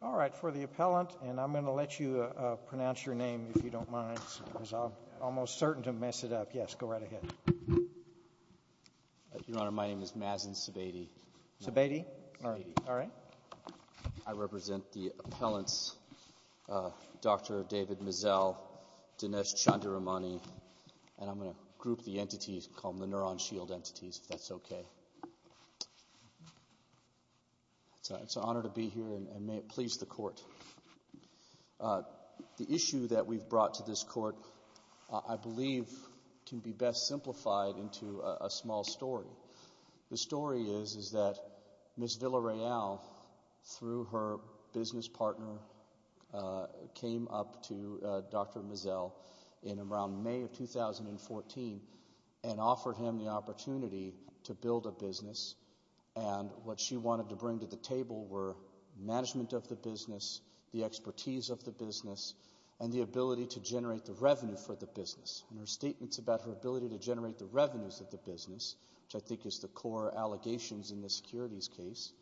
All right, for the appellant, and I'm going to let you pronounce your name if you don't almost certain to mess it up. Yes, go right ahead. Your Honor, my name is Mazen Sebade. I represent the appellants, Dr. David Masel, Dinesh Chandiramani, and I'm going to group the entities, call them the neuron shield entities, if that's okay. It's an honor to be here, and may it please the court. The issue that we've brought to this court, I believe, can be best simplified into a small story. The story is that Ms. Villarreal, through her business partner, came up to Dr. Masel in around May of 2014 and offered him the opportunity to build a business, and what expertise of the business and the ability to generate the revenue for the business. In her statements about her ability to generate the revenues of the business, which I think is the core allegations in this securities case,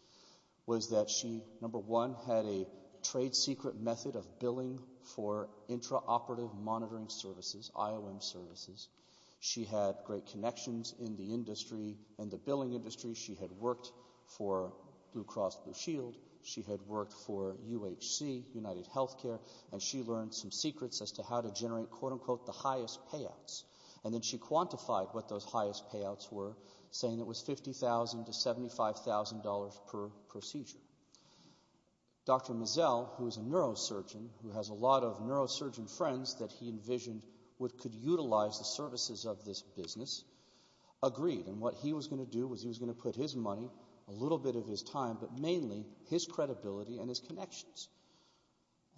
was that she, number one, had a trade secret method of billing for intraoperative monitoring services, IOM services. She had great connections in the industry and the billing industry. She had worked for Blue Cross Blue Shield. She had worked for UHC, United Healthcare, and she learned some secrets as to how to generate, quote unquote, the highest payouts, and then she quantified what those highest payouts were, saying it was $50,000 to $75,000 per procedure. Dr. Masel, who is a neurosurgeon, who has a lot of neurosurgeon friends that he envisioned could utilize the a little bit of his time, but mainly his credibility and his connections,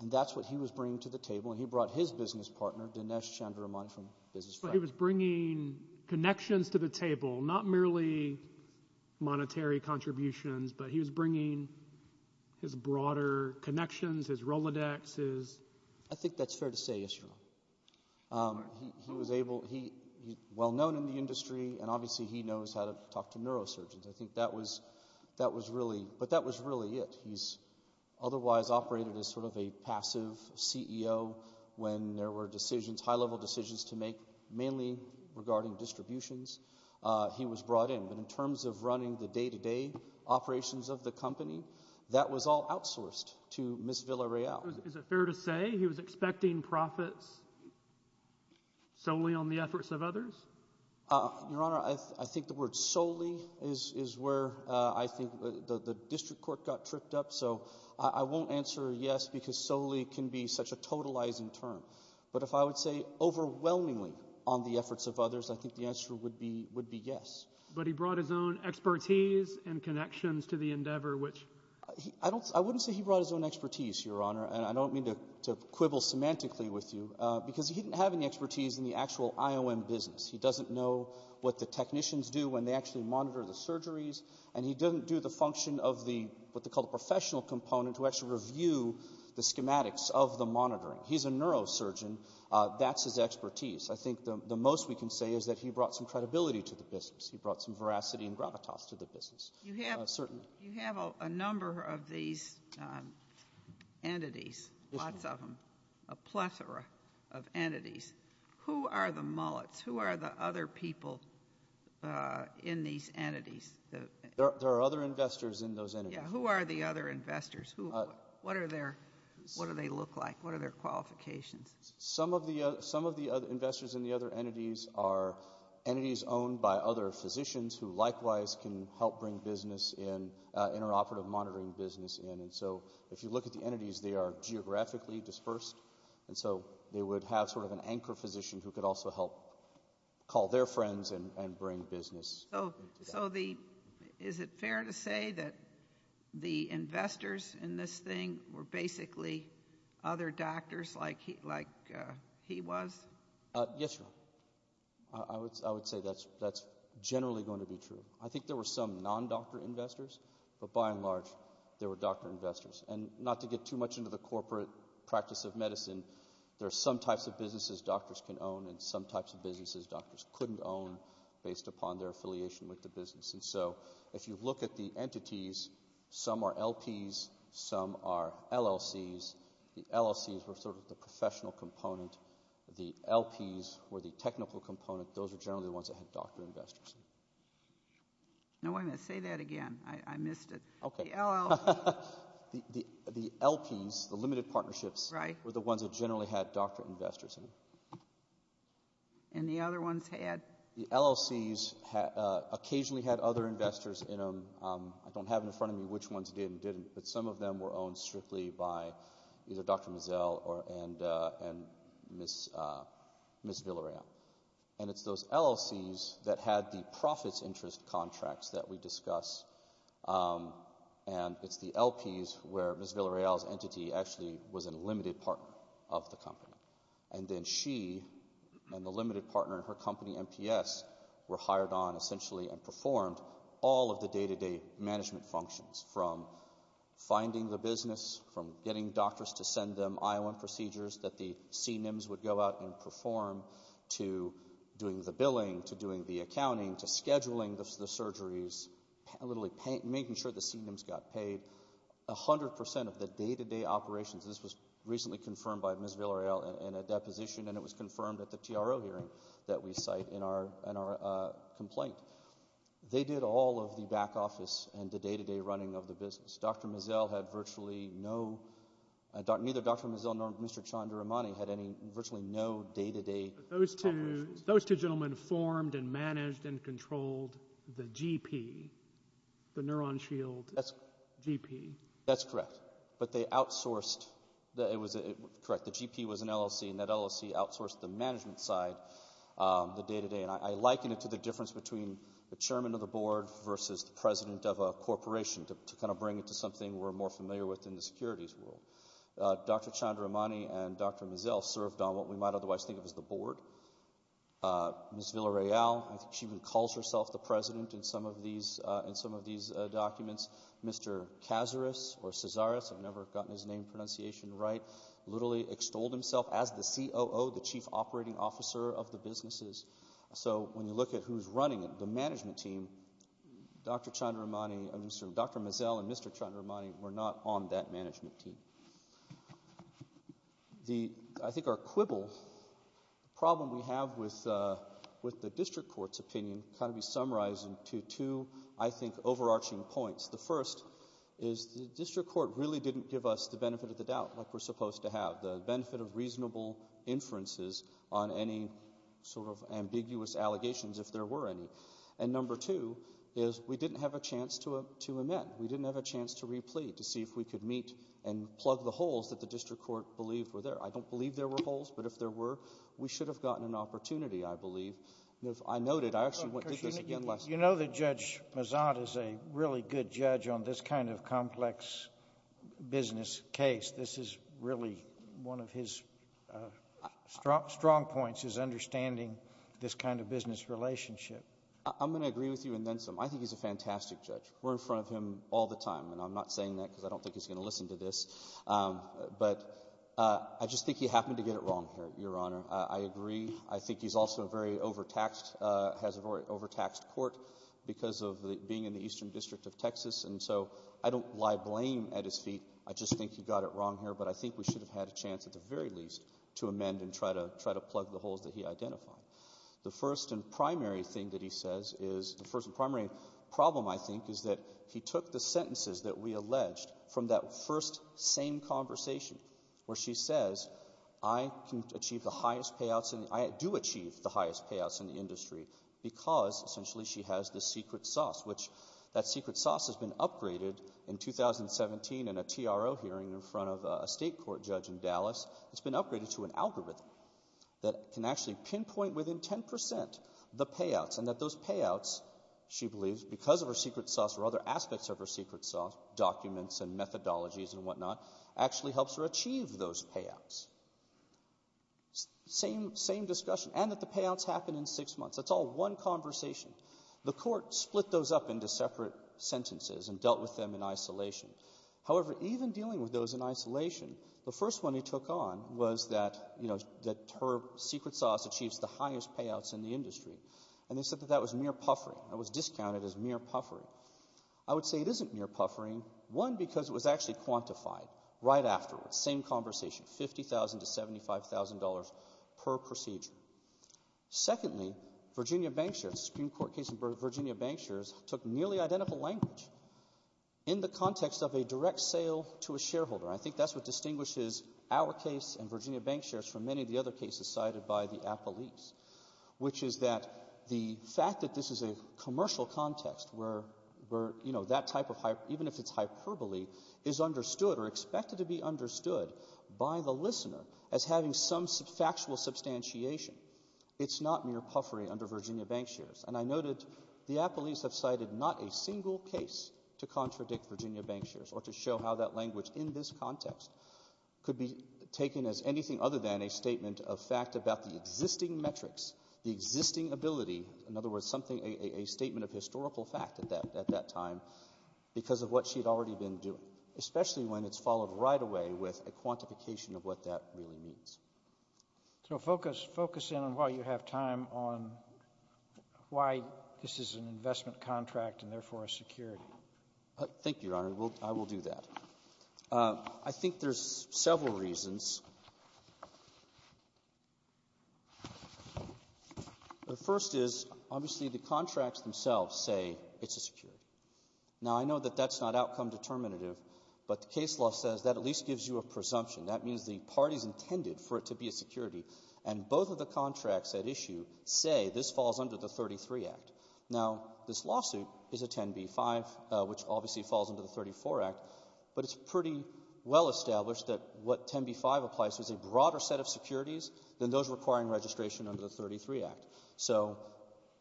and that's what he was bringing to the table, and he brought his business partner, Dinesh Chandramani, from Business Friends. He was bringing connections to the table, not merely monetary contributions, but he was bringing his broader connections, his Rolodex, his... I think that's fair to say, yes, your honor. He was able...well-known in the industry, and obviously he knows how to talk to neurosurgeons. I think that was really...but that was really it. He's otherwise operated as sort of a passive CEO when there were decisions, high-level decisions to make, mainly regarding distributions. He was brought in, but in terms of running the day-to-day operations of the company, that was all outsourced to Ms. Villareal. Is it fair to say he was expecting profits solely on the efforts of others? Your honor, I think the word solely is where I think the district court got tripped up, so I won't answer yes, because solely can be such a totalizing term, but if I would say overwhelmingly on the efforts of others, I think the answer would be yes. But he brought his own expertise and connections to the endeavor, which... I wouldn't say he brought his own expertise, your honor, and I don't mean to quibble semantically with you, because he didn't have any expertise in the actual IOM business. He doesn't know what the technicians do when they actually monitor the surgeries, and he doesn't do the function of what they call the professional component to actually review the schematics of the monitoring. He's a neurosurgeon. That's his expertise. I think the most we can say is that he brought some credibility to the business. He brought some veracity and gravitas to the business, certainly. You have a number of these entities, lots of them, a plethora of entities. Who are the mullets? Who are the other people in these entities? There are other investors in those entities. Who are the other investors? What do they look like? What are their qualifications? Some of the investors in the other entities are entities owned by other physicians who likewise can help bring business in, interoperative monitoring business in. If you look at the entities, they are geographically dispersed. They would have an anchor physician who could also help call their friends and bring business. Is it fair to say that the investors in this thing were basically other doctors like he was? Yes, your honor. I would say that's generally going to be true. I think there were some non-doctor investors, but by and large, they were doctor investors. Not to get too much into the corporate practice of medicine, there are some types of businesses doctors can own and some types of businesses doctors couldn't own based upon their affiliation with the business. If you look at the entities, some are LPs, some are LLCs. The LLCs were sort of the professional component. The LPs were the technical component. Those are generally the ones that had doctor investors. No, I'm going to say that again. I missed it. The LPs, the limited partnerships, were the ones that generally had doctor investors in them. And the other ones had? The LLCs occasionally had other investors in them. I don't have in front of me which ones did and didn't, but some of them were owned strictly by either Dr. Mazzel and Ms. Villarreal. And it's those LLCs that had the profits interest contracts that we discuss. And it's the LPs where Ms. Villarreal's entity actually was a limited partner of the company. And then she and the limited partner in her company, MPS, were hired on essentially and performed all of the day-to-day management functions from finding the business, from doing the billing, to doing the accounting, to scheduling the surgeries, literally making sure the C&Ms got paid, 100% of the day-to-day operations. This was recently confirmed by Ms. Villarreal in a deposition, and it was confirmed at the TRO hearing that we cite in our complaint. They did all of the back office and the day-to-day running of the business. Dr. Mazzel had virtually no, neither Dr. Mazzel nor Mr. Chandramani had any virtually no day-to-day operations. Those two gentlemen formed and managed and controlled the GP, the Neuron Shield GP. That's correct. But they outsourced, correct, the GP was an LLC, and that LLC outsourced the management side, the day-to-day. And I liken it to the difference between the chairman of the board versus the president of a corporation, to kind of bring it to something we're more familiar with in the securities world. Dr. Chandramani and Dr. Mazzel served on what we might otherwise think of as the board. Ms. Villarreal, she even calls herself the president in some of these documents. Mr. Cazares, I've never gotten his name pronunciation right, literally extolled himself as the COO, the chief operating officer of the businesses. So when you look at who's running it, the management team, Dr. Chandramani, Dr. Mazzel and Mr. Chandramani were not on that board. I think to quibble, the problem we have with the district court's opinion kind of be summarized into two, I think, overarching points. The first is the district court really didn't give us the benefit of the doubt like we're supposed to have, the benefit of reasonable inferences on any sort of ambiguous allegations, if there were any. And number two is we didn't have a chance to amend. We didn't have a chance to replete, to see if we could meet and plug the holes that the district court believed were there. I don't believe there were holes, but if there were, we should have gotten an opportunity, I believe. If I noted, I actually went through this again last night. You know that Judge Mazzott is a really good judge on this kind of complex business case. This is really one of his strong points is understanding this kind of business relationship. I'm going to agree with you in then some. I think he's a fantastic judge. We're in front of him all the time, and I'm not saying that because I don't think he's going to listen to this, but I just think he happened to get it wrong here, Your Honor. I agree. I think he's also a very overtaxed, has a very overtaxed court because of being in the eastern district of Texas, and so I don't lie blame at his feet. I just think he got it wrong here, but I think we should have had a chance at the very least to amend and try to plug the holes that he identified. The first and primary thing that he says is, the first and primary problem, I think, is that he took the sentences that we alleged from that first same conversation where she says, I can achieve the highest payouts, and I do achieve the highest payouts in the industry because, essentially, she has the secret sauce, which that secret sauce has been upgraded in 2017 in a TRO hearing in front of a state court judge in Dallas. It's been upgraded to an algorithm that can actually pinpoint within 10% the payouts, and that those payouts, she believes, because of her secret sauce or other aspects of her secret sauce, documents and methodologies and whatnot, actually helps her achieve those payouts. Same discussion. And that the payouts happen in six months. That's all one conversation. The court split those up into separate sentences and dealt with them in isolation. However, even dealing with those in isolation, the first one he took on was that, you know, that her secret sauce achieves the highest payouts in the industry. And they said that that was mere puffering. That was discounted as mere puffering. I would say it isn't mere puffering, one, because it was actually quantified right afterwards. Same conversation. $50,000 to $75,000 per procedure. Secondly, Virginia bank shares, Supreme Court case in Virginia bank shares, took nearly identical language in the context of a direct sale to a shareholder. I think that's what distinguishes our case and Virginia bank shares from many of the other cases cited by the appellees, which is that the fact that this is a commercial context where, you know, that type of, even if it's hyperbole, is understood or expected to be understood by the listener as having some factual substantiation. It's not mere puffery under Virginia bank shares. And I noted the appellees have cited not a single case to contradict Virginia bank shares or to show how that language in this context could be taken as anything other than a statement of fact about the existing metrics, the existing ability, in other words, something, a statement of historical fact at that time because of what she had already been doing, especially when it's followed right away with a quantification of what that really means. So focus in on while you have time on why this is an investment contract and therefore a security. Thank you, Your Honor. I will do that. I think there's several reasons. The first is, obviously, the contracts themselves say it's a security. Now, I know that that's not outcome-determinative, but the case law says that at least gives you a presumption. That means the parties intended for it to be a security, and both of the contracts at issue say this falls under the 33 Act. Now, this lawsuit is a 10b-5, which obviously falls under the 34 Act, but it's pretty well established that what 10b-5 applies to is a broader set of securities than those requiring registration under the 33 Act. So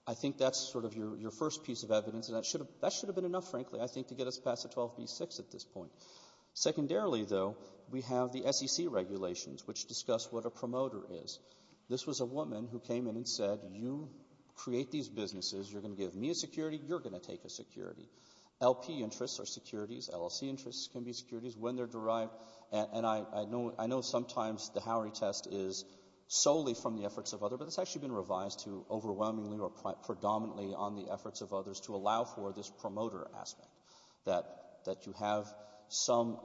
I think that's sort of your first piece of evidence, and that should have been enough, frankly, I think, to get us past the 12b-6 at this point. Secondarily, though, we have the SEC regulations, which discuss what a promoter is. This was a woman who came in and said, you create these businesses, you're going to give me a security, you're going to take a security. LP interests are securities, LLC interests can be securities, when they're derived, and I know sometimes the Howery test is solely from the efforts of others, but it's actually been revised to overwhelmingly or predominantly on the efforts of others to allow for this promoter aspect, that you have some,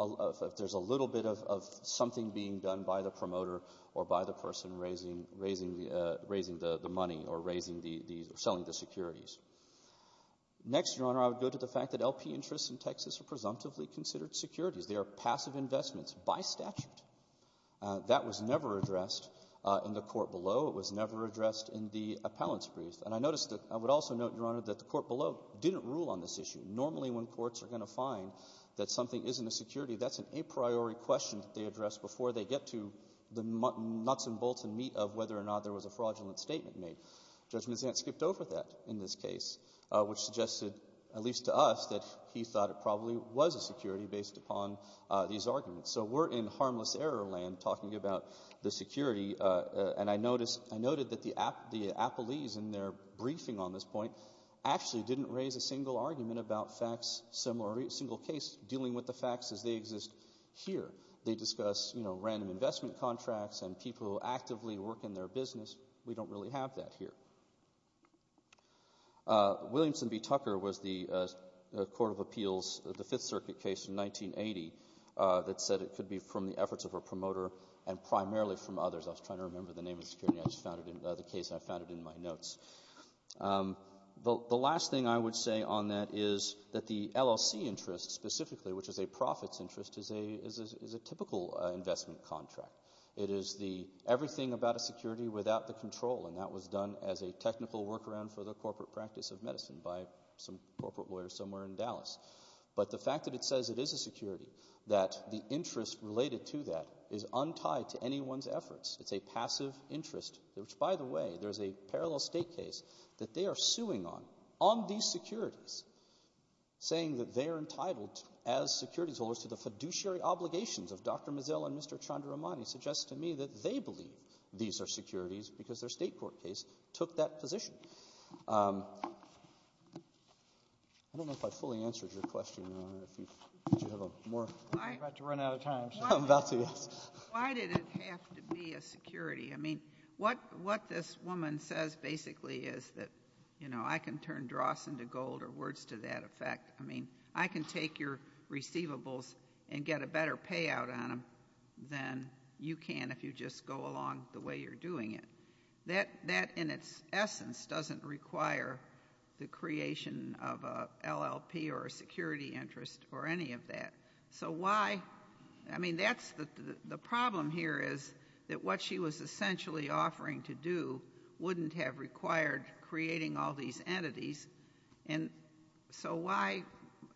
there's a little bit of something being done by the promoter or by the person raising the money or raising the or selling the securities. Next, Your Honor, I would go to the fact that LP interests in Texas are presumptively considered securities. They are passive investments by statute. That was never addressed in the court below. It was never addressed in the appellants brief. And I noticed that I would also note, Your Honor, that the court below didn't rule on this issue. Normally when courts are going to find that something isn't a security, that's an a priori question that they address before they get to the nuts and bolts and meat of whether or not there was a fraudulent statement made. Judge Mazzant skipped over that in this case, which suggested, at least to us, that he thought it probably was a security based upon these arguments. So we're in harmless error land talking about the security, and I noticed, I noted that the appellees in their briefing on this point actually didn't raise a single argument about facts, a single case dealing with the facts as they exist here. They discuss, you know, random investment contracts and people who actively work in their business. We don't really have that here. Williamson v. Tucker was the court of appeals, the Fifth Circuit case in 1980, that said it could be from the efforts of a promoter and primarily from others. I was trying to remember the name of the case, and I found it in my notes. The last thing I would say on that is that the LLC interest, specifically, which is a profits interest, is a typical investment contract. It is the everything about a security without the control, and that was done as a technical workaround for the corporate practice of medicine by some corporate lawyers somewhere in Dallas. But the fact that it says it is a security, that the interest related to that is untied to a parallel state case that they are suing on, on these securities, saying that they are entitled as securities holders to the fiduciary obligations of Dr. Mazzell and Mr. Chandramani suggests to me that they believe these are securities because their state court case took that position. I don't know if I fully answered your question, Your Honor. Did you have a more? You're about to run out of time, sir. I'm about to, yes. Why did it have to be a security? I mean, what this woman says, basically, is that, you know, I can turn dross into gold or words to that effect. I mean, I can take your receivables and get a better payout on them than you can if you just go along the way you're doing it. That, in its essence, doesn't require the creation of an LLP or a security interest or any of that. So why, I mean, that's the problem here is that what she was essentially offering to do wouldn't have required creating all these entities. And so why,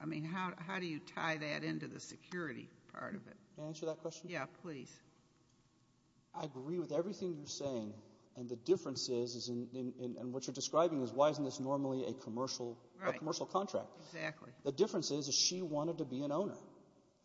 I mean, how do you tie that into the security part of it? Can I answer that question? Yeah, please. I agree with everything you're saying. And the difference is, and what you're describing is why isn't this normally a commercial, a commercial contract? Right, exactly. The difference is, is she wanted to be an owner.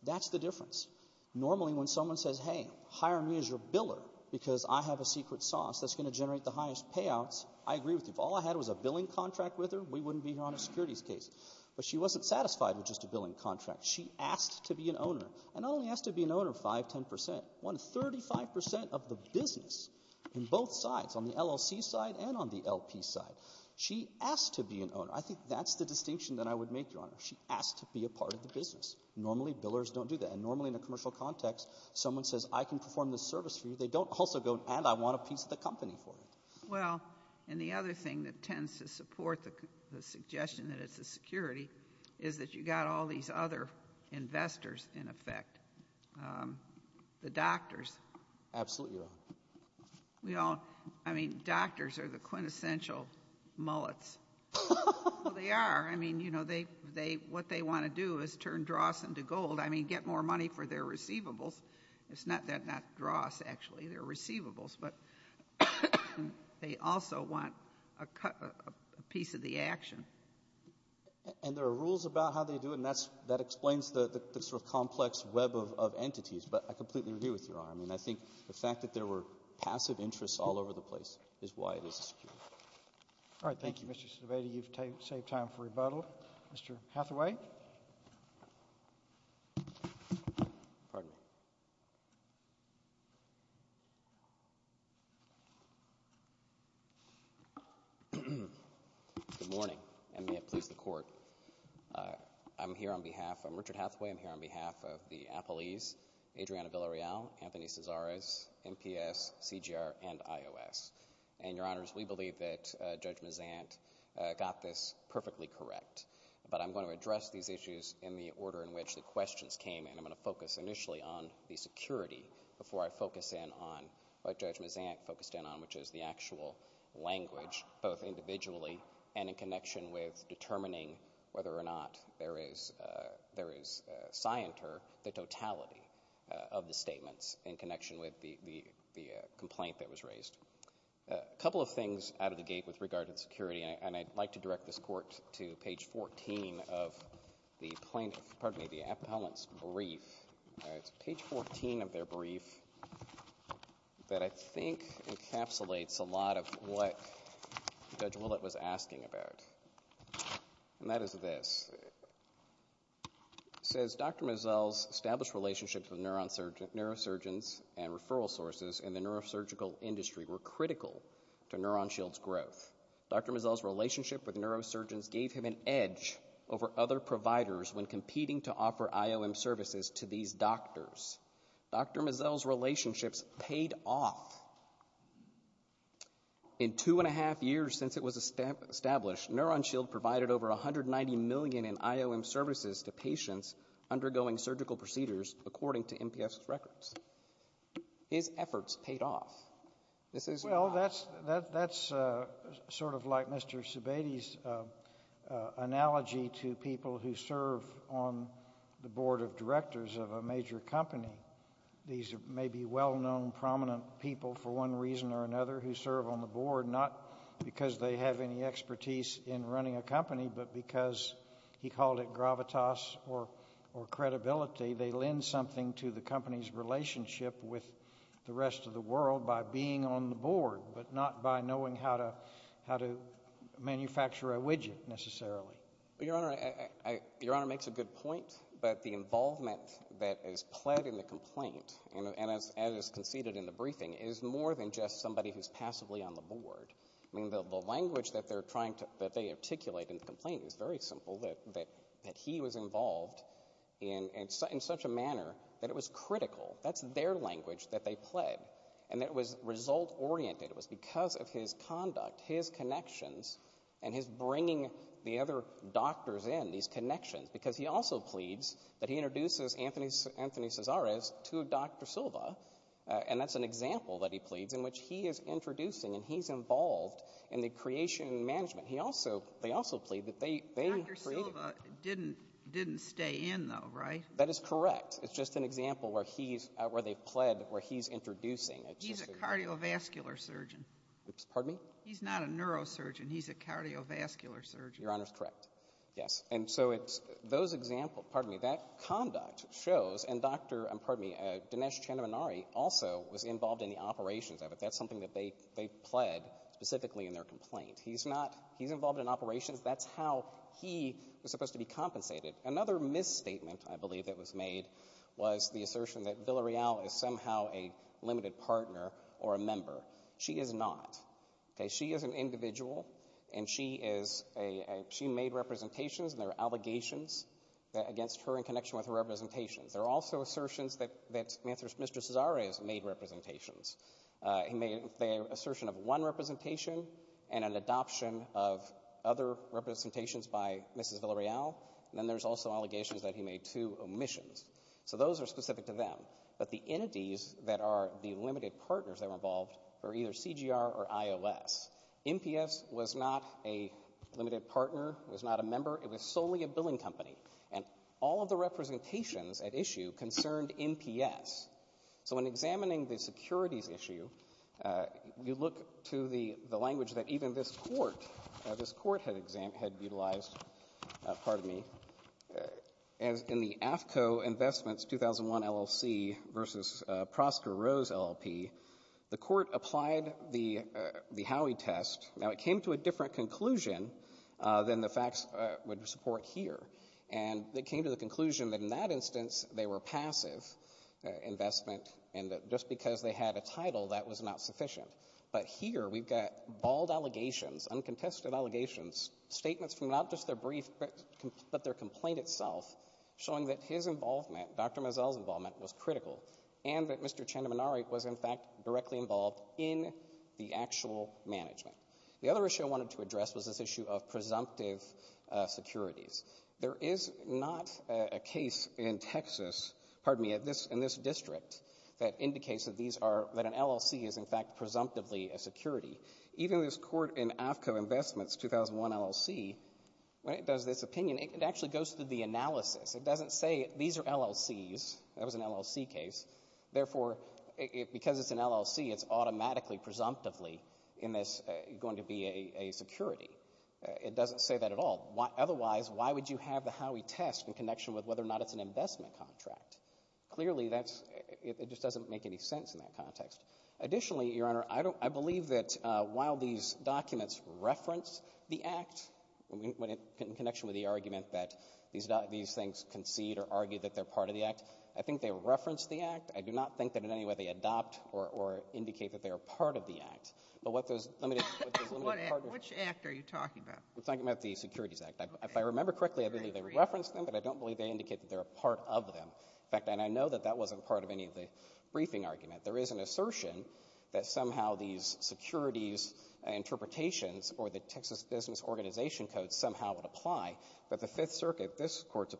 That's the difference. Normally, when someone says, hey, hire me as your biller because I have a secret sauce that's going to generate the highest payouts, I agree with you. If all I had was a billing contract with her, we wouldn't be here on a securities case. But she wasn't satisfied with just a billing contract. She asked to be an owner. And not only asked to be an owner 5, 10 percent, won 35 percent of the business in both sides, on the LLC side and on the LP side. She asked to be an owner. I think that's the distinction that I would make, Your Honor. She asked to be a part of the business. Normally, billers don't do that. And normally in a commercial context, someone says, I can perform this service for you. They don't also go, and I want a piece of the company for it. Well, and the other thing that tends to support the suggestion that it's a security is that you got all these other investors in effect. The doctors. Absolutely, Your Honor. We all, I mean, doctors are the quintessential mullets. They are. I mean, you know, what they want to do is turn dross into gold. I mean, get more money for their receivables. It's not dross, actually. They're receivables. But they also want a piece of the action. And there are rules about how they do it, and that explains the sort of complex web of entities. But I completely agree with Your Honor. I mean, I think the fact that there were passive interests all over the place is why it is a security. All right. Thank you, Mr. Cervantes. You've saved time for rebuttal. Mr. Hathaway. Pardon me. Good morning, and may it please the Court. I'm here on behalf of Richard Hathaway. I'm here on behalf of the appellees, Adriana Villarreal, Anthony Cesares, NPS, CGR, and IOS. And, Your Honors, we believe that Judge Mazant got this perfectly correct. But I'm going to address these issues in the order in which the questions came, and I'm going to focus initially on the security before I focus in on what Judge Mazant focused in on, which is the actual language, both individually and in connection with determining whether or not there is scienter, the totality of the statements in connection with the complaint that was raised. A couple of things out of the gate with regard to the security, and I'd like to direct this Court to page 14 of the plaintiff's, pardon me, the appellant's brief. It's page 14 of their brief that I think encapsulates a lot of what Judge Willett was asking about, and that is this. It says, Dr. Mazzel's established relationships with neurosurgeons and referral sources in the neurosurgical industry were critical to NeuronShield's growth. Dr. Mazzel's relationship with neurosurgeons gave him an edge over other providers when competing to offer IOM services to these doctors. Dr. Mazzel's relationships paid off. In two and a half years since it was established, NeuronShield provided over $190 million in IOM services to patients undergoing surgical procedures according to NPS's records. His efforts paid off. This is not... Well, that's sort of like Mr. Sebade's analogy to people who serve on the board of directors of a major company. These may be well-known, prominent people for one reason or another who serve on the board, not because they have any expertise in running a company, but because he called it gravitas or credibility. They lend something to the company's relationship with the rest of the world by being on the board, but not by knowing how to manufacture a widget, necessarily. Well, Your Honor, Your Honor makes a good point, but the involvement that is pled in the complaint, and as conceded in the briefing, is more than just somebody who's passively on the board. I mean, the language that they articulate in the complaint is very simple, that he was involved in such a manner that it was critical. That's their language that they pled, and it was result-oriented. It was because of his conduct, his connections, and his bringing the other doctors in, these connections, because he also pleads that he was to Dr. Silva, and that's an example that he pleads in which he is introducing and he's involved in the creation and management. He also, they also plead that they created. Dr. Silva didn't stay in, though, right? That is correct. It's just an example where he's, where they've pled where he's introducing. He's a cardiovascular surgeon. Pardon me? He's not a neurosurgeon. He's a cardiovascular surgeon. Your Honor's correct. Yes. And so it's, those examples, pardon me, that conduct shows, and Dr., pardon me, Dinesh Chandramanari also was involved in the operations of it. That's something that they, they pled specifically in their complaint. He's not, he's involved in operations. That's how he was supposed to be compensated. Another misstatement, I believe, that was made was the assertion that Villareal is somehow a limited partner or a member. She is not. Okay? She is an individual, and she is a, she made representations, and there are allegations against her in connection with her representations. There are also assertions that, that Mr. Cesare has made representations. He made the assertion of one representation and an adoption of other representations by Mrs. Villareal, and then there's also allegations that he made two omissions. So those are specific to them. But the entities that are the limited partners that were involved were either NPS was not a limited partner, was not a member. It was solely a billing company. And all of the representations at issue concerned NPS. So when examining the securities issue, you look to the, the language that even this Court, this Court had exam, had utilized, pardon me, as in the AFCO Investments 2001 LLC v. Prosker Rose LLP, the came to a different conclusion than the facts would support here. And they came to the conclusion that in that instance, they were passive investment, and that just because they had a title, that was not sufficient. But here, we've got bald allegations, uncontested allegations, statements from not just their brief, but their complaint itself, showing that his involvement, Dr. Mazzell's involvement, was critical, and that Mr. Chandramanaray was, in fact, directly involved in the actual management. The other issue I wanted to address was this issue of presumptive securities. There is not a case in Texas, pardon me, in this, in this district, that indicates that these are, that an LLC is, in fact, presumptively a security. Even this Court in AFCO Investments 2001 LLC, when it does this opinion, it actually goes through the analysis. It doesn't say, these are LLCs, that was an LLC case. Therefore, because it's an LLC, it's automatically, presumptively, in this, going to be a security. It doesn't say that at all. Otherwise, why would you have the Howey test in connection with whether or not it's an investment contract? Clearly, that's, it just doesn't make any sense in that context. Additionally, Your Honor, I don't, I believe that while these documents reference the Act, in connection with the argument that these things concede or argue that they're part of the Act, I think they reference the Act. I do not think that in any way they adopt or, or indicate that they are part of the Act. But what those limited, what those limited partnerships are. Sotomayor, which Act are you talking about? I'm talking about the Securities Act. Okay. If I remember correctly, I believe they reference them, but I don't believe they indicate that they're a part of them. In fact, and I know that that wasn't part of any of the briefing argument. There is an assertion that somehow these securities interpretations or the Texas Business Organization Code somehow would apply, but the Fifth Circuit, this Court's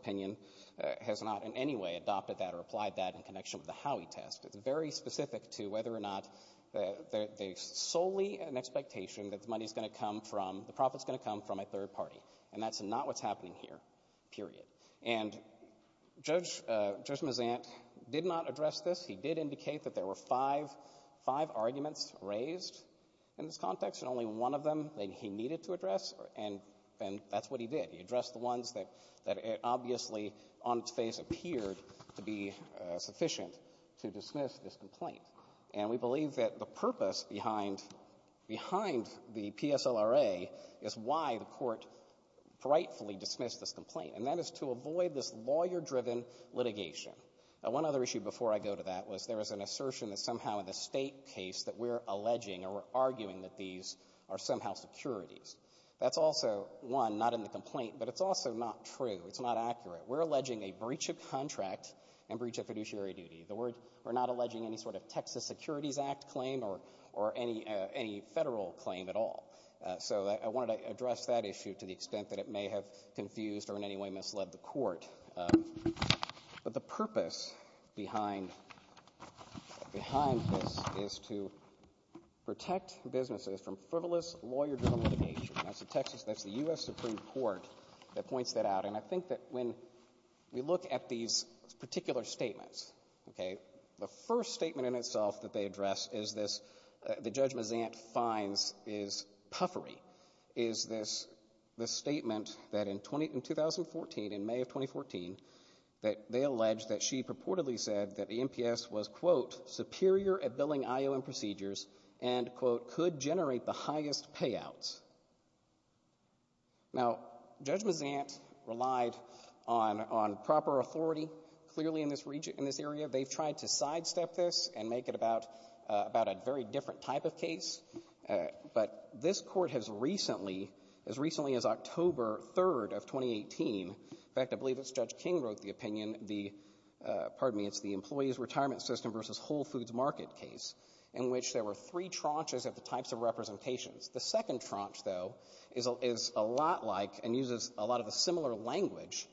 anyway adopted that or applied that in connection with the Howey test. It's very specific to whether or not they're solely an expectation that the money's going to come from, the profit's going to come from a third party. And that's not what's happening here, period. And Judge, Judge Mazant did not address this. He did indicate that there were five, five arguments raised in this context, and only one of them that he needed to address, and, and that's what he did. He addressed the ones that, that obviously on its face appeared to be sufficient to dismiss this complaint. And we believe that the purpose behind, behind the PSLRA is why the Court rightfully dismissed this complaint, and that is to avoid this lawyer-driven litigation. One other issue before I go to that was there was an assertion that somehow in the State case that we're alleging or arguing that these are somehow securities. That's also, one, not in the complaint, but it's also not true. It's not accurate. We're alleging a breach of contract and breach of fiduciary duty. The word, we're not alleging any sort of Texas Securities Act claim or, or any, any Federal claim at all. So I, I wanted to address that issue to the extent that it may have confused or in any way misled the Court. But the purpose behind, behind this is to protect businesses from frivolous lawyer-driven litigation. That's the Texas, that's the U.S. Supreme Court that points that out. And I think that when we look at these particular statements, okay, the first statement in itself that they address is this, that Judge Mazant finds is puffery, is this, this statement that in 2014, in May of 2014, that they alleged that she purportedly said that the NPS was, quote, superior at billing IOM procedures and, quote, could generate the highest payouts. Now, Judge Mazant relied on, on proper authority, clearly in this region, in this area. They've tried to sidestep this and make it about, about a very different type of case. But this Court has recently, as recently as October 3rd of 2018, in which there were three tranches of the types of representations. The second tranche, though, is a lot like and uses a lot of a similar language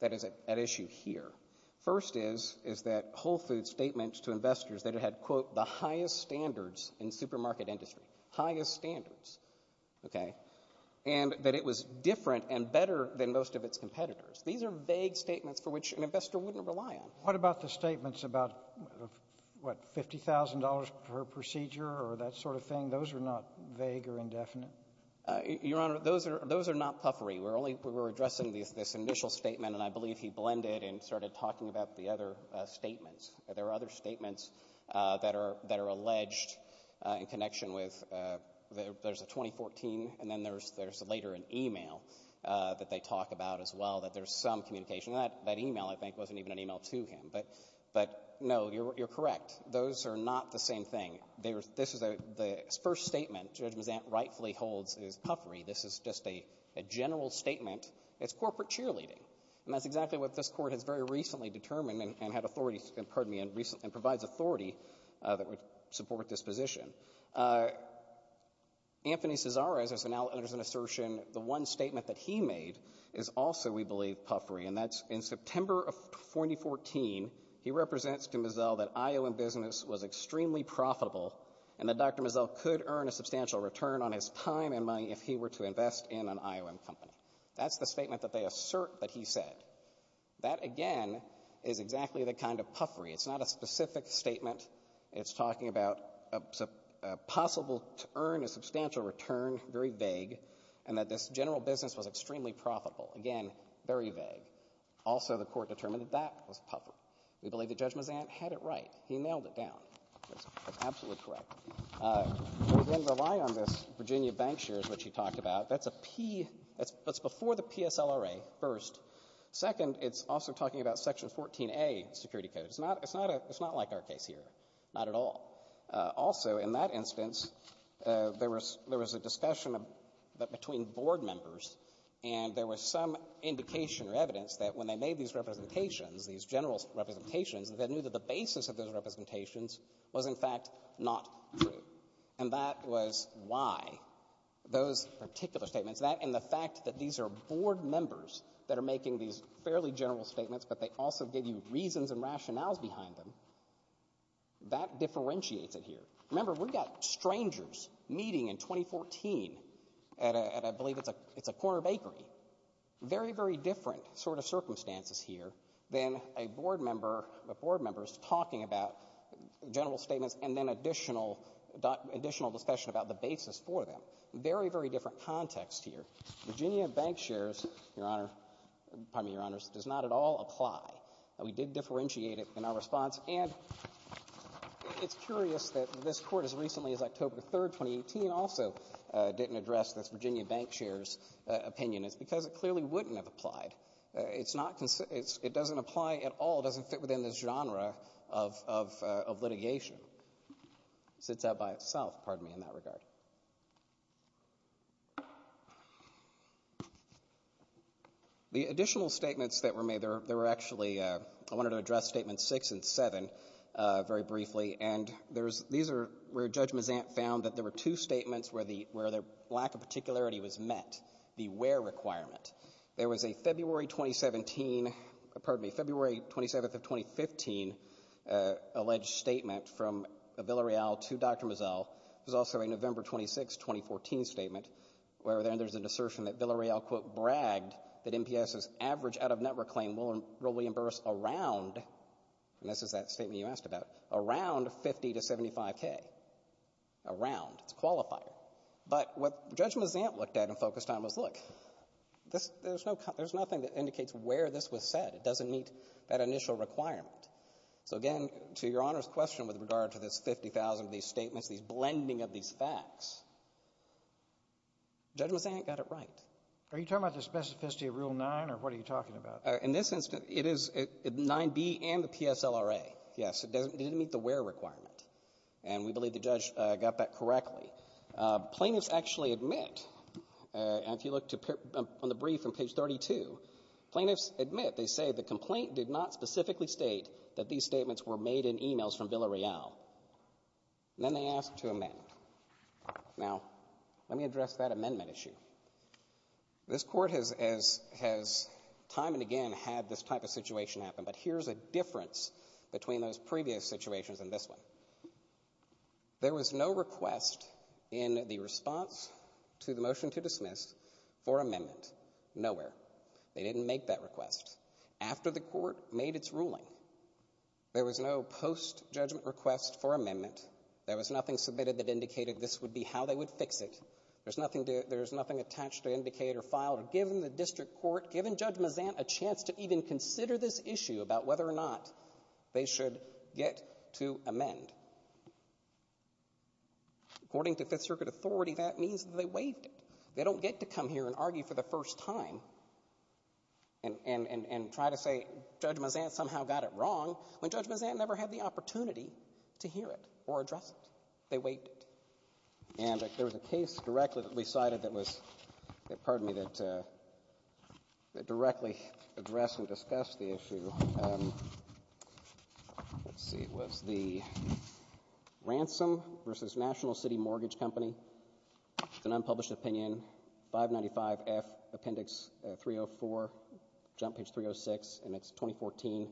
that is at issue here. First is, is that Whole Foods statements to investors that it had, quote, the highest standards in supermarket industry, highest standards, okay, and that it was different and better than most of its competitors. These are vague statements for which an investor wouldn't rely on. What about the statements about, what, $50,000 per procedure or that sort of thing? Those are not vague or indefinite. Your Honor, those are, those are not puffery. We're only, we were addressing this initial statement and I believe he blended and started talking about the other statements. There are other statements that are, that are alleged in connection with, there's a 2014 and then there's, there's later an email that they talk about as well, that there's some communication. That, that email, I think, wasn't even an email to him, but, but no, you're, you're correct. Those are not the same thing. They were, this is a, the first statement Judge Mazzant rightfully holds is puffery. This is just a, a general statement. It's corporate cheerleading. And that's exactly what this Court has very recently determined and had authority to, pardon me, and recently provides authority that would support this position. Anthony Cesare, as an, as an assertion, the one statement that he made is also, we can't, in September of 2014, he represents to Mazzel that IOM business was extremely profitable and that Dr. Mazzel could earn a substantial return on his time and money if he were to invest in an IOM company. That's the statement that they assert that he said. That, again, is exactly the kind of puffery. It's not a specific statement. It's talking about a possible, to earn a substantial return, very vague, and that this general business was extremely profitable. Again, very vague. Also, the Court determined that that was puffery. We believe that Judge Mazzant had it right. He nailed it down. That's absolutely correct. We're going to rely on this Virginia Bank shares, which he talked about. That's a P. That's before the PSLRA, first. Second, it's also talking about Section 14a security code. It's not, it's not a, it's not like our case here, not at all. Also, in that instance, there was, there was a discussion between board members, and there was some indication or evidence that when they made these representations, these general representations, that they knew that the basis of those representations was, in fact, not true. And that was why those particular statements, that and the fact that these are board members that are making these fairly general statements, but they also give you reasons and rationales behind them, that differentiates it here. Remember, we got strangers meeting in 2014 at a, I believe it's a, it's a Corner Bakery. Very, very different sort of circumstances here than a board member, a board member is talking about general statements and then additional, additional discussion about the basis for them. Very, very different context here. Virginia Bank shares, Your Honor, pardon me, Your Honors, does not at all apply. We did differentiate it in our response. And it's curious that this Court, as recently as October 3rd, 2018, also didn't address this Virginia Bank shares opinion. It's because it clearly wouldn't have applied. It's not, it doesn't apply at all. It doesn't fit within this genre of litigation. It sits out by itself, pardon me, in that regard. The additional statements that were made, there were actually, I wanted to address Statements 6 and 7 very briefly. And there's, these are where Judge Mazant found that there were two statements where the, where the lack of particularity was met, the where requirement. There was a February 2017, pardon me, February 27th of 2015 alleged statement from Villareal to Dr. Mazzell. There's also a November 26th, 2014 statement where there's an assertion that Villareal quote bragged that NPS's average out-of-network claim will reimburse around, and this is that statement you asked about, around 50 to 75K. Around. It's a qualifier. But what Judge Mazant looked at in focus time was look, this, there's no, there's nothing that indicates where this was said. It doesn't meet that initial requirement. So again, to Your Honor's question with regard to this 50,000 of these statements, these blending of these facts, Judge Mazant got it right. Are you talking about the specificity of Rule 9, or what are you talking about? In this instance, it is 9B and the PSLRA. It doesn't, it didn't meet the where requirement. And we believe the judge got that correctly. Plaintiffs actually admit, and if you look to, on the brief on page 32, plaintiffs admit, they say the complaint did not specifically state that these statements were made in e-mails from Villareal. Then they asked to amend. Now, let me address that amendment issue. This Court has time and again had this type of situation happen. But here's a difference between those previous situations and this one. There was no request in the response to the motion to dismiss for amendment. Nowhere. They didn't make that request. After the Court made its ruling, there was no post-judgment request for amendment. There was nothing submitted that indicated this would be how they would fix it. There's nothing to, there's nothing attached to indicate or file, or given the district court, given Judge Mazant a chance to even consider this issue about whether or not they should get to amend. According to Fifth Circuit authority, that means that they waived it. They don't get to come here and argue for the first time and, and, and try to say Judge Mazant somehow got it wrong, when Judge Mazant never had the opportunity to hear it or address it. They waived it. And there was a case directly that we cited that was, that, pardon me, that, that directly addressed and discussed the issue. Let's see, it was the Ransom v. National City Mortgage Company. It's an unpublished opinion. 595F Appendix 304, Jump Page 306, and it's 2014,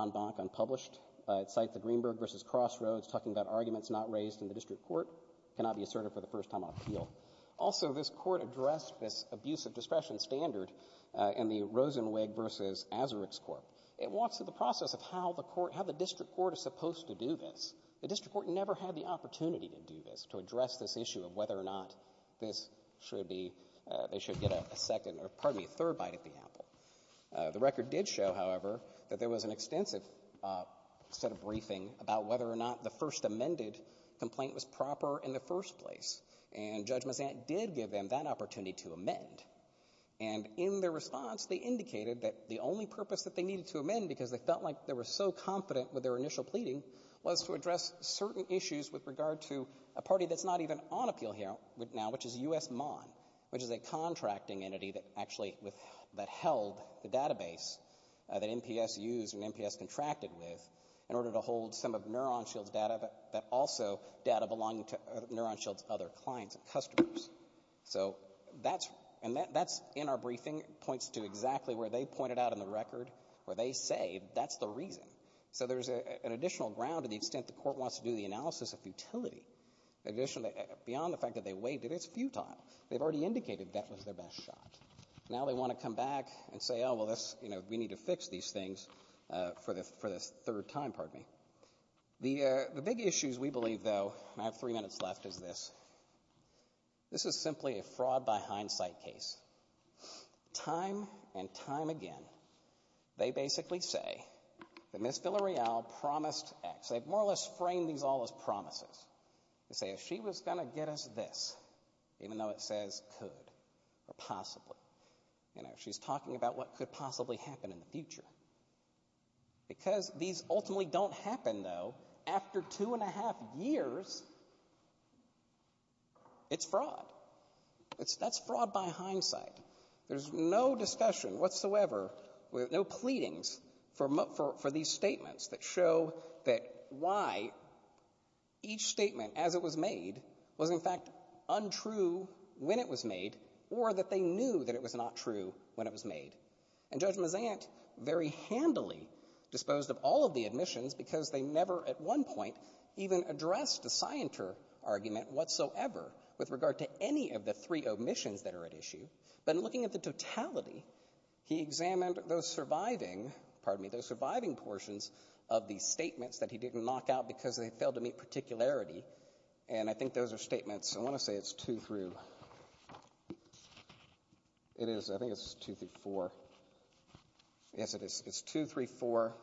en banc, unpublished. It cites the Greenberg v. Crossroads talking about arguments not raised in the district court, cannot be asserted for the first time on appeal. Also, this Court addressed this abusive discretion standard in the Rosenwig v. Azarick's Court. It walks through the process of how the court, how the district court is supposed to do this. The district court never had the opportunity to do this, to address this issue of whether or not this should be, they should get a second, or pardon me, a third bite at the apple. The record did show, however, that there was an extensive set of briefing about whether or not the first amended complaint was proper in the first place. And Judge Mazant did give them that opportunity to amend. And in their response, they indicated that the only purpose that they needed to amend because they felt like they were so confident with their initial pleading was to address certain issues with regard to a party that's not even on appeal here now, which is U.S. Mon, which is a contracting entity that actually held the database that NPS used and NPS contracted with in order to hold some of NeuronShield's data, but also data belonging to NeuronShield's other clients and customers. So that's, and that's in our briefing, points to exactly where they pointed out in the record where they say that's the reason. So there's an additional ground to the extent the court wants to do the analysis of futility. Additionally, beyond the fact that they waived it, it's futile. They've already indicated that was their best shot. Now they want to come back and say, oh, well, this, you know, we need to fix these things for the third time, pardon me. The big issues, we believe, though, and I have three minutes left, is this. This is simply a fraud by hindsight case. Time and time again, they basically say that Ms. Villarreal promised X. They've more or less framed these all as promises. They say if she was going to get us this, even though it says could or possibly, you know, she's talking about what could possibly happen in the future. Because these ultimately don't happen, though, after two and a half years, it's fraud. That's fraud by hindsight. There's no discussion whatsoever, no pleadings for these statements that show that why each statement as it was made was in fact untrue when it was made or that they knew that it was not true when it was made. And Judge Mazant very handily disposed of all of the admissions because they never at one point even addressed the scienter argument whatsoever with regard to any of the three admissions that are at issue. But in looking at the totality, he examined those surviving, pardon me, those surviving portions of these statements that he didn't knock out because they failed to meet particularity. And I think those are statements, I want to say it's two through, it is, I think it's two through four. Yes, it is. It's two, three, four.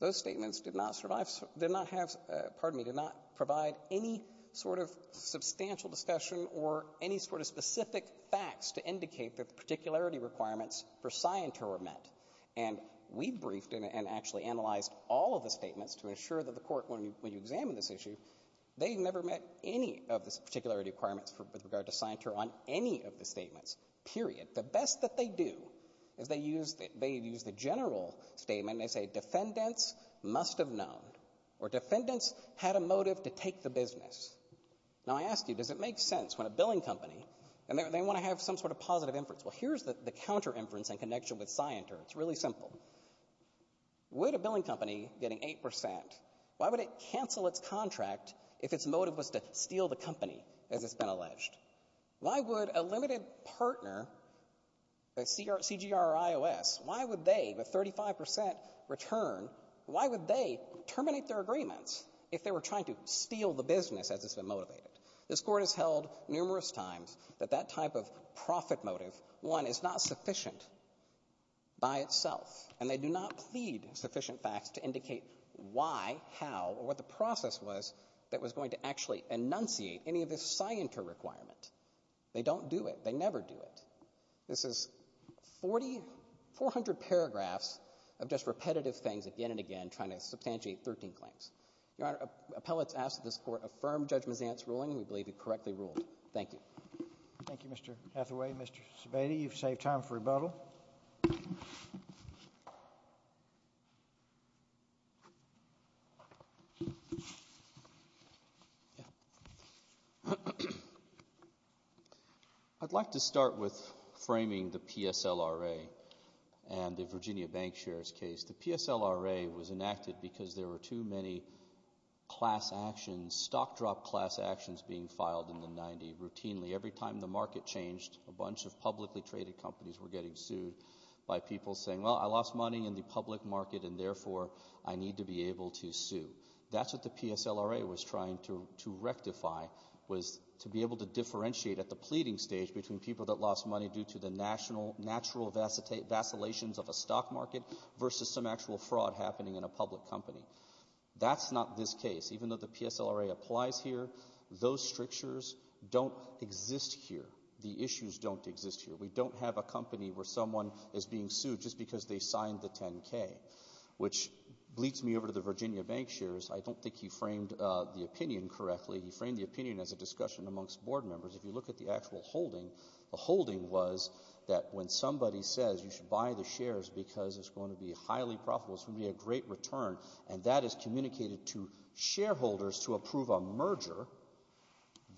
Those statements did not survive, did not have, pardon me, did not provide any sort of specific facts to indicate that the particularity requirements for scienter were met. And we briefed and actually analyzed all of the statements to ensure that the court, when you examine this issue, they never met any of the particularity requirements with regard to scienter on any of the statements, period. The best that they do is they use the general statement. They say defendants must have known or defendants had a motive to take the business. Now, I ask you, does it make sense when a billing company, and they want to have some sort of positive inference. Well, here's the counter inference in connection with scienter. It's really simple. Would a billing company getting 8%, why would it cancel its contract if its motive was to steal the company, as it's been alleged? Why would a limited partner, a CGR or IOS, why would they, with 35% return, why would they terminate their agreements if they were trying to steal the business as it's been motivated? This Court has held numerous times that that type of profit motive, one, is not sufficient by itself, and they do not plead sufficient facts to indicate why, how, or what the process was that was going to actually enunciate any of this scienter requirement. They don't do it. They never do it. This is 40, 400 paragraphs of just repetitive things again and again trying to substantiate 13 claims. Your Honor, appellate's asked that this Court affirm Judge Mazzant's ruling. We believe he correctly ruled. Thank you. Thank you, Mr. Hathaway. Mr. Sebade, you've saved time for rebuttal. I'd like to start with framing the PSLRA and the Virginia bank shares case. The PSLRA was enacted because there were too many class actions, stock drop class actions being filed in the 90s routinely. Every time the market changed, a bunch of publicly traded companies were getting sued by people saying, well, I lost money in the public market and therefore I need to be able to sue. That's what the PSLRA was trying to rectify, was to be able to differentiate at the pleading stage between people that lost money due to the natural vacillations of a stock market versus some actual fraud happening in a public company. That's not this case. Even though the PSLRA applies here, those strictures don't exist here. The issues don't exist here. We don't have a company where someone is being sued just because they signed the 10-K, which leads me over to the Virginia bank shares. I don't think he framed the opinion correctly. He framed the opinion as a discussion amongst board members. If you look at the actual holding, the holding was that when somebody says you should buy the shares because it's going to be highly profitable, it's going to be a great return, and that is communicated to shareholders to approve a merger,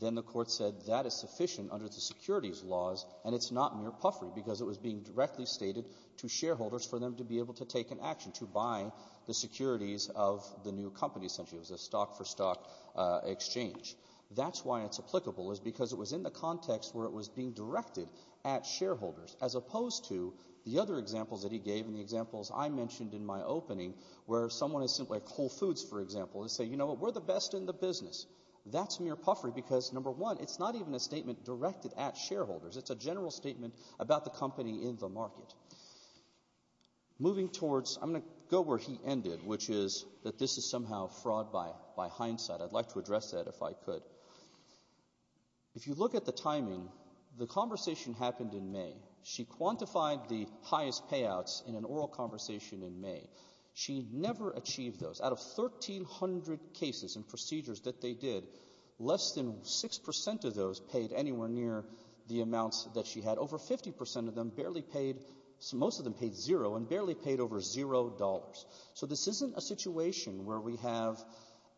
then the court said that is sufficient under the securities laws, and it's not mere puffery because it was being directly stated to shareholders for them to be able to take an action, to buy the securities of the new company essentially. It was a stock-for-stock exchange. That's why it's applicable, is because it was in the context where it was being directed at shareholders, as opposed to the other examples that he gave and the examples I mentioned in my opening where someone is simply at Whole Foods, for example, and say, you know, we're the best in the business. That's mere puffery because, number one, it's not even a statement directed at shareholders. It's a general statement about the company in the market. Moving towards, I'm going to go where he ended, which is that this is somehow fraud by hindsight. I'd like to address that if I could. If you look at the timing, the conversation happened in May. She quantified the highest payouts in an oral conversation in May. She never achieved those. Out of 1,300 cases and procedures that they did, less than 6% of those paid anywhere near the amounts that she had. Over 50% of them barely paid, most of them paid zero and barely paid over $0. So this isn't a situation where we have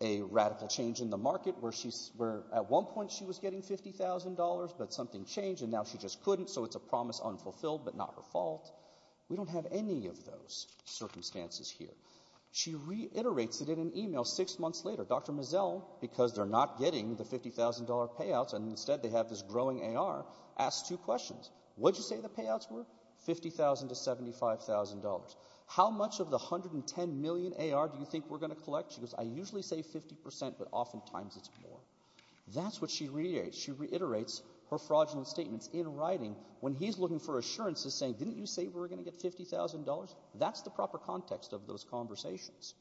a radical change in the market where at one point she was getting $50,000, but something changed and now she just couldn't, so it's a promise unfulfilled, but not her fault. We don't have any of those circumstances here. She reiterates it in an email six months later. Dr. Mazzel, because they're not getting the $50,000 payouts and instead they have this growing AR, asks two questions. What did you say the payouts were? $50,000 to $75,000. How much of the $110 million AR do you think we're going to collect? She goes, I usually say 50%, but oftentimes it's more. That's what she reiterates. She reiterates her fraudulent statements in writing when he's looking for assurances saying, didn't you say we were going to get $50,000? That's the proper context of those conversations.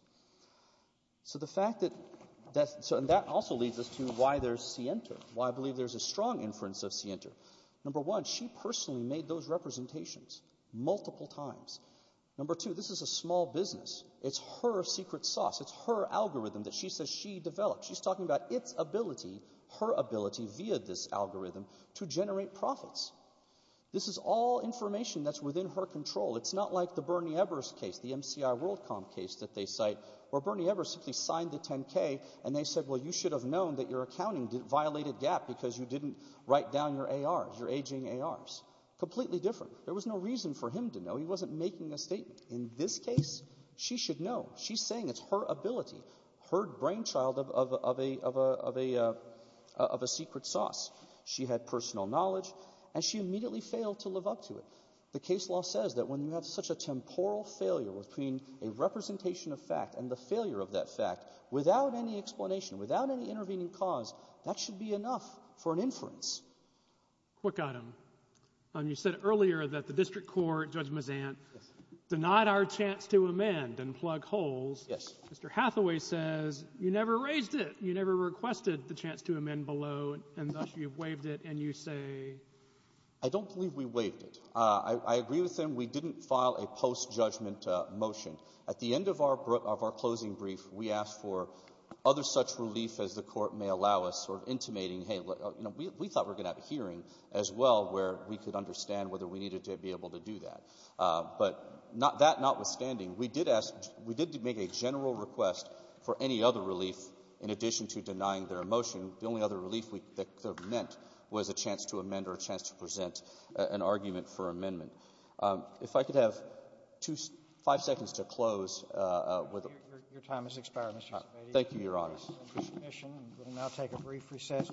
So the fact that that also leads us to why there's Sienta, why I believe there's a strong inference of Sienta. Number one, she personally made those representations multiple times. Number two, this is a small business. It's her secret sauce. It's her algorithm that she says she developed. She's talking about its ability, her ability via this algorithm to generate profits. This is all information that's within her control. It's not like the Bernie Ebers case, the MCI World Comp case that they cite where Bernie Ebers simply signed the 10K and they said, well, you should have known that your accounting violated GAAP because you didn't write down your AR, your aging ARs. Completely different. There was no reason for him to know. He wasn't making a statement. In this case, she should know. She's saying it's her ability. Her brainchild of a secret sauce. She had personal knowledge, and she immediately failed to live up to it. The case law says that when you have such a temporal failure between a representation of fact and the failure of that fact, without any explanation, without any intervening cause, that should be enough for an inference. Quick item. You said earlier that the district court, Judge Mazant, denied our chance to amend and plug holes. Yes. Mr. Hathaway says you never raised it. You never requested the chance to amend below, and thus you waived it, and you say? I don't believe we waived it. I agree with him. We didn't file a post-judgment motion. At the end of our closing brief, we asked for other such relief as the court may allow us, sort of intimating, hey, you know, we thought we were going to have a hearing as well where we could understand whether we needed to be able to do that. But that notwithstanding, we did ask to make a general request for any other relief in addition to denying their motion. The only other relief that could have meant was a chance to amend or a chance to present an argument for amendment. If I could have five seconds to close with a ---- Your time has expired, Mr. Sebade. Thank you, Your Honors. Thank you for your submission. We will now take a brief recess.